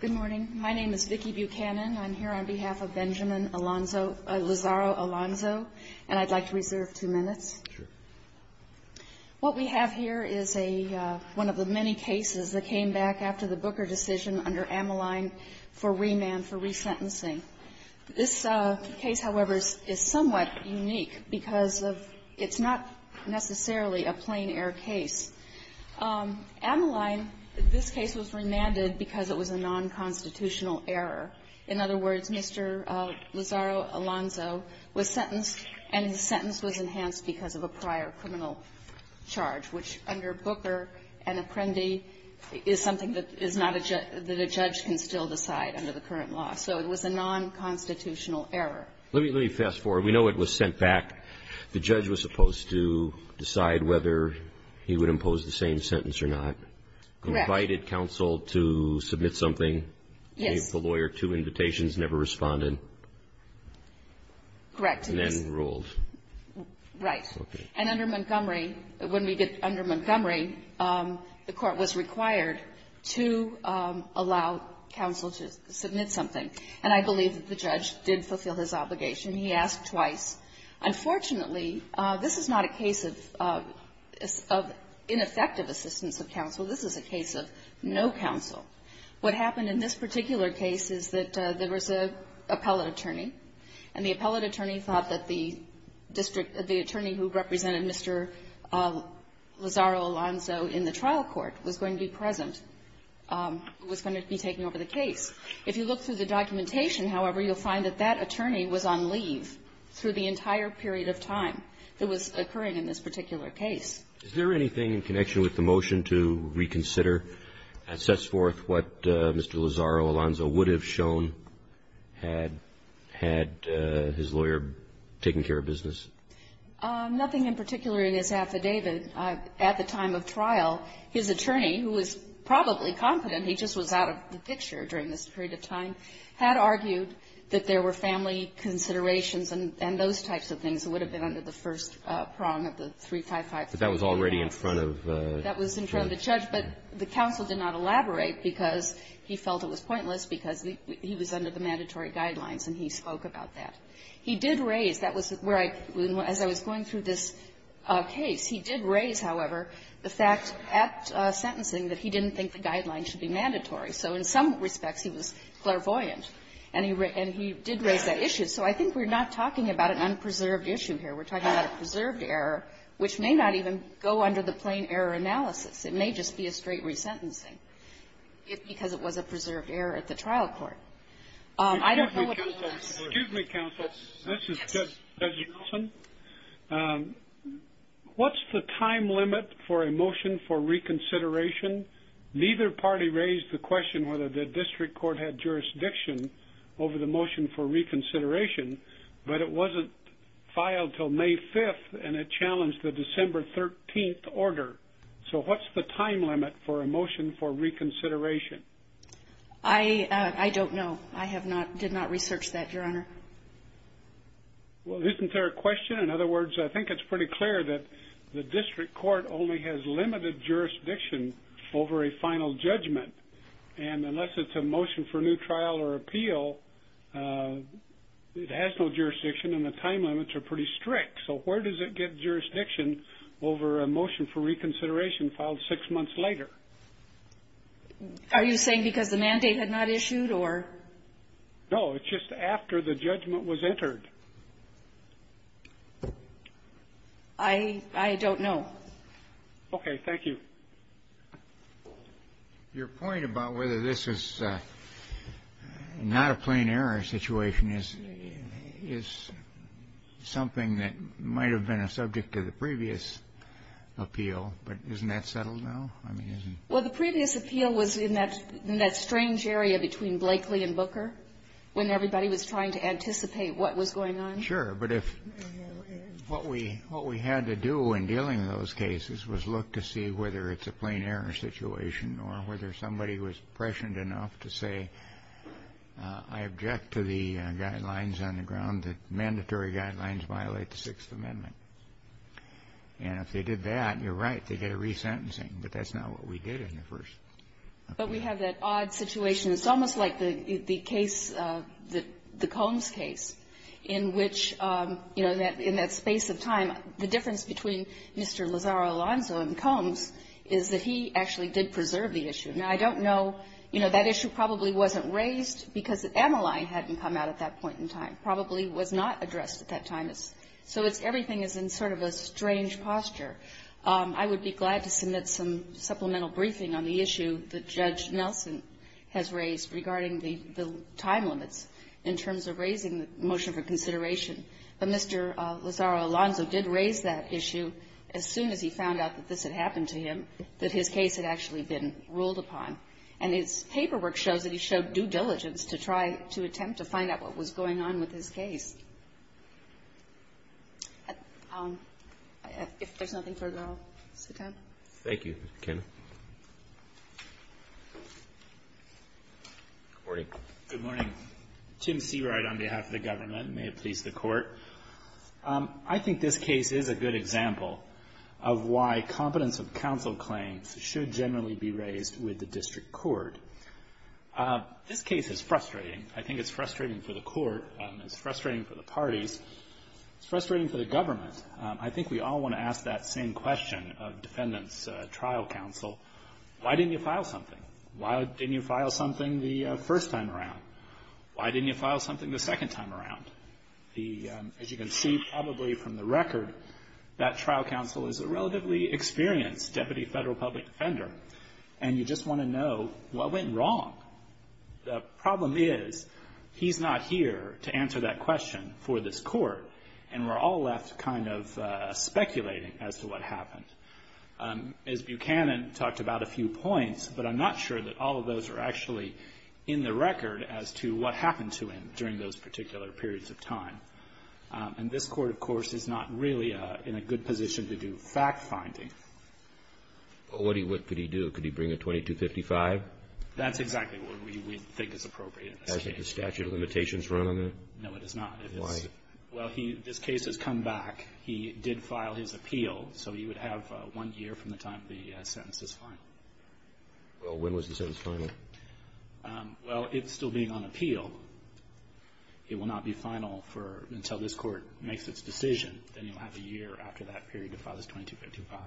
Good morning. My name is Vicki Buchanan. I'm here on behalf of Benjamin Lazaro-Alonso. And I'd like to reserve two minutes. What we have here is one of the many cases that came back after the Booker decision under Ammaline for remand for resentencing. This case, however, is somewhat unique because of it's not necessarily a plain-air case. Ammaline, this case was remanded because it was a non-constitutional error. In other words, Mr. Lazaro-Alonso was sentenced, and his sentence was enhanced because of a prior criminal charge, which under Booker and Apprendi is something that is not a judge – that a judge can still decide under the current law. So it was a non-constitutional error. Let me fast forward. We know it was sent back. The judge was supposed to decide whether he would impose the same sentence or not. Correct. Invited counsel to submit something. Yes. The lawyer, two invitations, never responded. Correct. And then ruled. Right. Okay. And under Montgomery – when we get under Montgomery, the court was required to allow counsel to submit something. And I believe that the judge did fulfill his obligation. He asked twice. Unfortunately, this is not a case of ineffective assistance of counsel. This is a case of no counsel. What happened in this particular case is that there was an appellate attorney, and the appellate attorney thought that the district – the attorney who represented Mr. Lazzaro-Alonzo in the trial court was going to be present – was going to be taking over the case. If you look through the documentation, however, you'll find that that attorney was on leave through the entire period of time that was occurring in this particular case. Is there anything in connection with the motion to reconsider and sets forth what Mr. Lazzaro-Alonzo would have shown had his lawyer taken care of business? Nothing in particular in his affidavit. At the time of trial, his attorney, who was probably confident he just was out of the picture during this period of time, had argued that there were family considerations and those types of things that would have been under the first prong of the 355. But that was already in front of the judge. That was in front of the judge, but the counsel did not elaborate because he felt it was pointless because he was under the mandatory guidelines, and he spoke about He did raise – that was where I – as I was going through this case, he did raise, however, the fact at sentencing that he didn't think the guidelines should be mandatory. So in some respects, he was clairvoyant, and he did raise that issue. So I think we're not talking about an unpreserved issue here. We're talking about a preserved error, which may not even go under the plain-error analysis. It may just be a straight resentencing because it was a preserved error at the trial court. I don't know what he thinks. Excuse me, counsel. This is Judge Nelson. What's the time limit for a motion for reconsideration? Neither party raised the question whether the district court had jurisdiction over the motion for reconsideration, but it wasn't filed until May 5th, and it challenged the December 13th order. So what's the time limit for a motion for reconsideration? I don't know. I have not – did not research that, Your Honor. Well, isn't there a question? In other words, I think it's pretty clear that the district court only has limited jurisdiction over a final judgment. And unless it's a motion for new trial or appeal, it has no jurisdiction, and the time limits are pretty strict. So where does it get jurisdiction over a motion for reconsideration filed six months later? Are you saying because the mandate had not issued or? No. It's just after the judgment was entered. I don't know. Okay. Thank you. Your point about whether this is not a plain error situation is something that might have been a subject to the previous appeal, but isn't that settled now? Well, the previous appeal was in that strange area between Blakely and Booker when everybody was trying to anticipate what was going on. Sure, but if – what we had to do in dealing with those cases was look to see whether it's a plain error situation or whether somebody was prescient enough to say, I object to the guidelines on the ground that mandatory guidelines violate the Sixth Amendment. And if they did that, you're right, they get a resentencing. But that's not what we did in the first. But we have that odd situation. It's almost like the case, the Combs case, in which, you know, in that space of time, the difference between Mr. Lazaro-Alonzo and Combs is that he actually did preserve the issue. Now, I don't know. You know, that issue probably wasn't raised because the MLI hadn't come out at that point in time, probably was not addressed at that time. But it was. So it's – everything is in sort of a strange posture. I would be glad to submit some supplemental briefing on the issue that Judge Nelson has raised regarding the time limits in terms of raising the motion for consideration. But Mr. Lazaro-Alonzo did raise that issue as soon as he found out that this had happened to him, that his case had actually been ruled upon. And his paperwork shows that he showed due diligence to try to attempt to find out what was going on with his case. If there's nothing further, I'll sit down. Thank you, Ms. McKenna. Good morning. Good morning. Tim Seawright on behalf of the government. May it please the Court. I think this case is a good example of why competence of counsel claims should generally be raised with the district court. This case is frustrating. I think it's frustrating for the Court. It's frustrating for the parties. It's frustrating for the government. I think we all want to ask that same question of defendants' trial counsel. Why didn't you file something? Why didn't you file something the first time around? Why didn't you file something the second time around? The – as you can see probably from the record, that trial counsel is a relatively experienced deputy federal public defender. And you just want to know what went wrong. The problem is he's not here to answer that question for this Court, and we're all left kind of speculating as to what happened. Ms. Buchanan talked about a few points, but I'm not sure that all of those are actually in the record as to what happened to him during those particular periods of time. And this Court, of course, is not really in a good position to do fact-finding. What could he do? Could he bring a 2255? That's exactly what we think is appropriate in this case. Doesn't the statute of limitations run on that? No, it does not. Why? Well, he – this case has come back. He did file his appeal, so he would have one year from the time the sentence is final. Well, when was the sentence final? Well, it's still being on appeal. It will not be final for – until this Court makes its decision. Then he'll have a year after that period to file his 2255.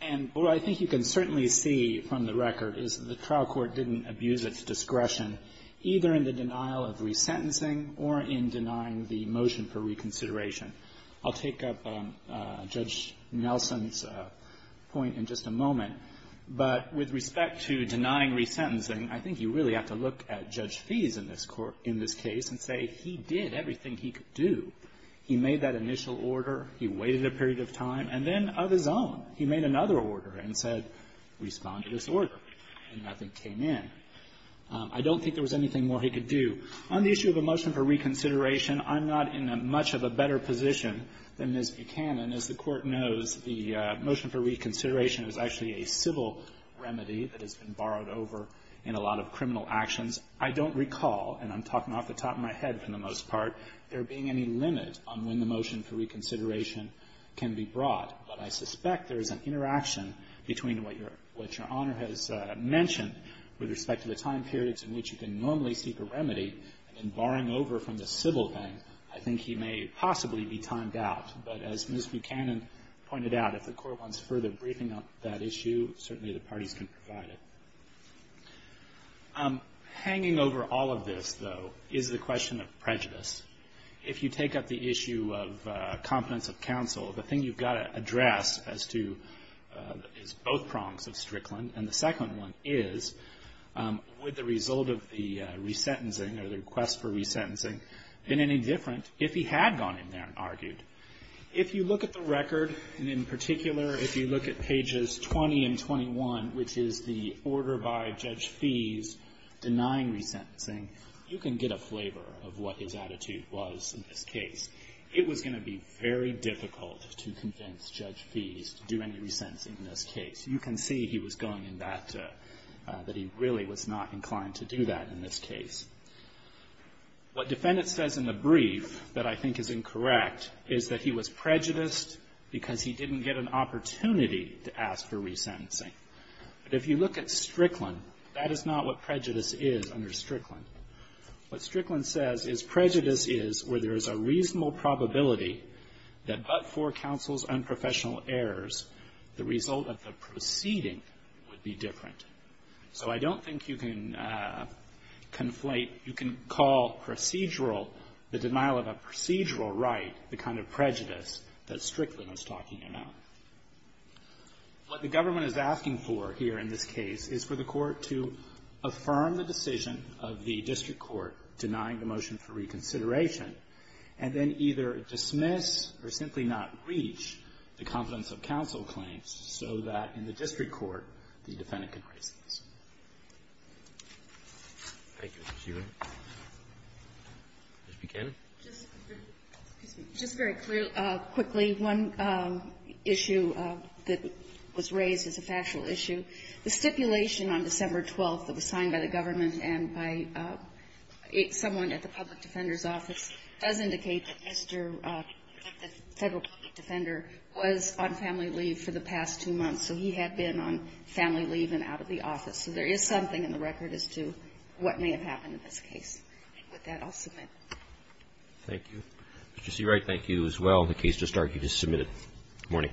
And what I think you can certainly see from the record is the trial court didn't abuse its discretion either in the denial of resentencing or in denying the motion for reconsideration. I'll take up Judge Nelson's point in just a moment. But with respect to denying resentencing, I think you really have to look at Judge Fees in this case and say he did everything he could do. He made that initial order. He waited a period of time. And then of his own, he made another order and said, respond to this order. And nothing came in. I don't think there was anything more he could do. On the issue of a motion for reconsideration, I'm not in much of a better position than Ms. Buchanan. As the Court knows, the motion for reconsideration is actually a civil remedy that has been borrowed over in a lot of criminal actions. I don't recall, and I'm talking off the top of my head for the most part, there being any limit on when the motion for reconsideration can be brought. But I suspect there is an interaction between what Your Honor has mentioned with respect to the time periods in which you can normally seek a remedy and borrowing over from the civil thing. I think he may possibly be timed out. But as Ms. Buchanan pointed out, if the Court wants further briefing on that issue, certainly the parties can provide it. Hanging over all of this, though, is the question of prejudice. If you take up the issue of competence of counsel, the thing you've got to address as to both prongs of Strickland, and the second one is, would the result of the resentencing or the request for resentencing been any different if he had gone in there and argued? If you look at the record, and in particular if you look at pages 20 and 21, which is the order by Judge Feese denying resentencing, you can get a flavor of what his attitude was in this case. It was going to be very difficult to convince Judge Feese to do any resentencing in this case. You can see he was going in that, that he really was not inclined to do that in this case. What defendants says in the brief that I think is incorrect is that he was prejudiced because he didn't get an opportunity to ask for resentencing. But if you look at Strickland, that is not what prejudice is under Strickland. What Strickland says is prejudice is where there is a reasonable probability that but for counsel's unprofessional errors, the result of the proceeding would be different. So I don't think you can conflate, you can call procedural, the denial of a procedural right, the kind of prejudice that Strickland is talking about. What the government is asking for here in this case is for the Court to affirm the decision of the district court denying the motion for reconsideration and then either dismiss or simply not reach the confidence of counsel claims so that in the district court the defendant can raise these. Roberts. Thank you. Ms. Hewitt. Ms. Buchanan. Just very quickly, one issue that was raised is a factual issue. The stipulation on December 12th that was signed by the government and by someone at the Public Defender's Office does indicate that Mr. of the Federal Public Defender was on family leave for the past two months. So he had been on family leave and out of the office. So there is something in the record as to what may have happened in this case. With that, I'll submit. Thank you. Mr. Seawright, thank you as well. The case just started. You just submitted. Good morning.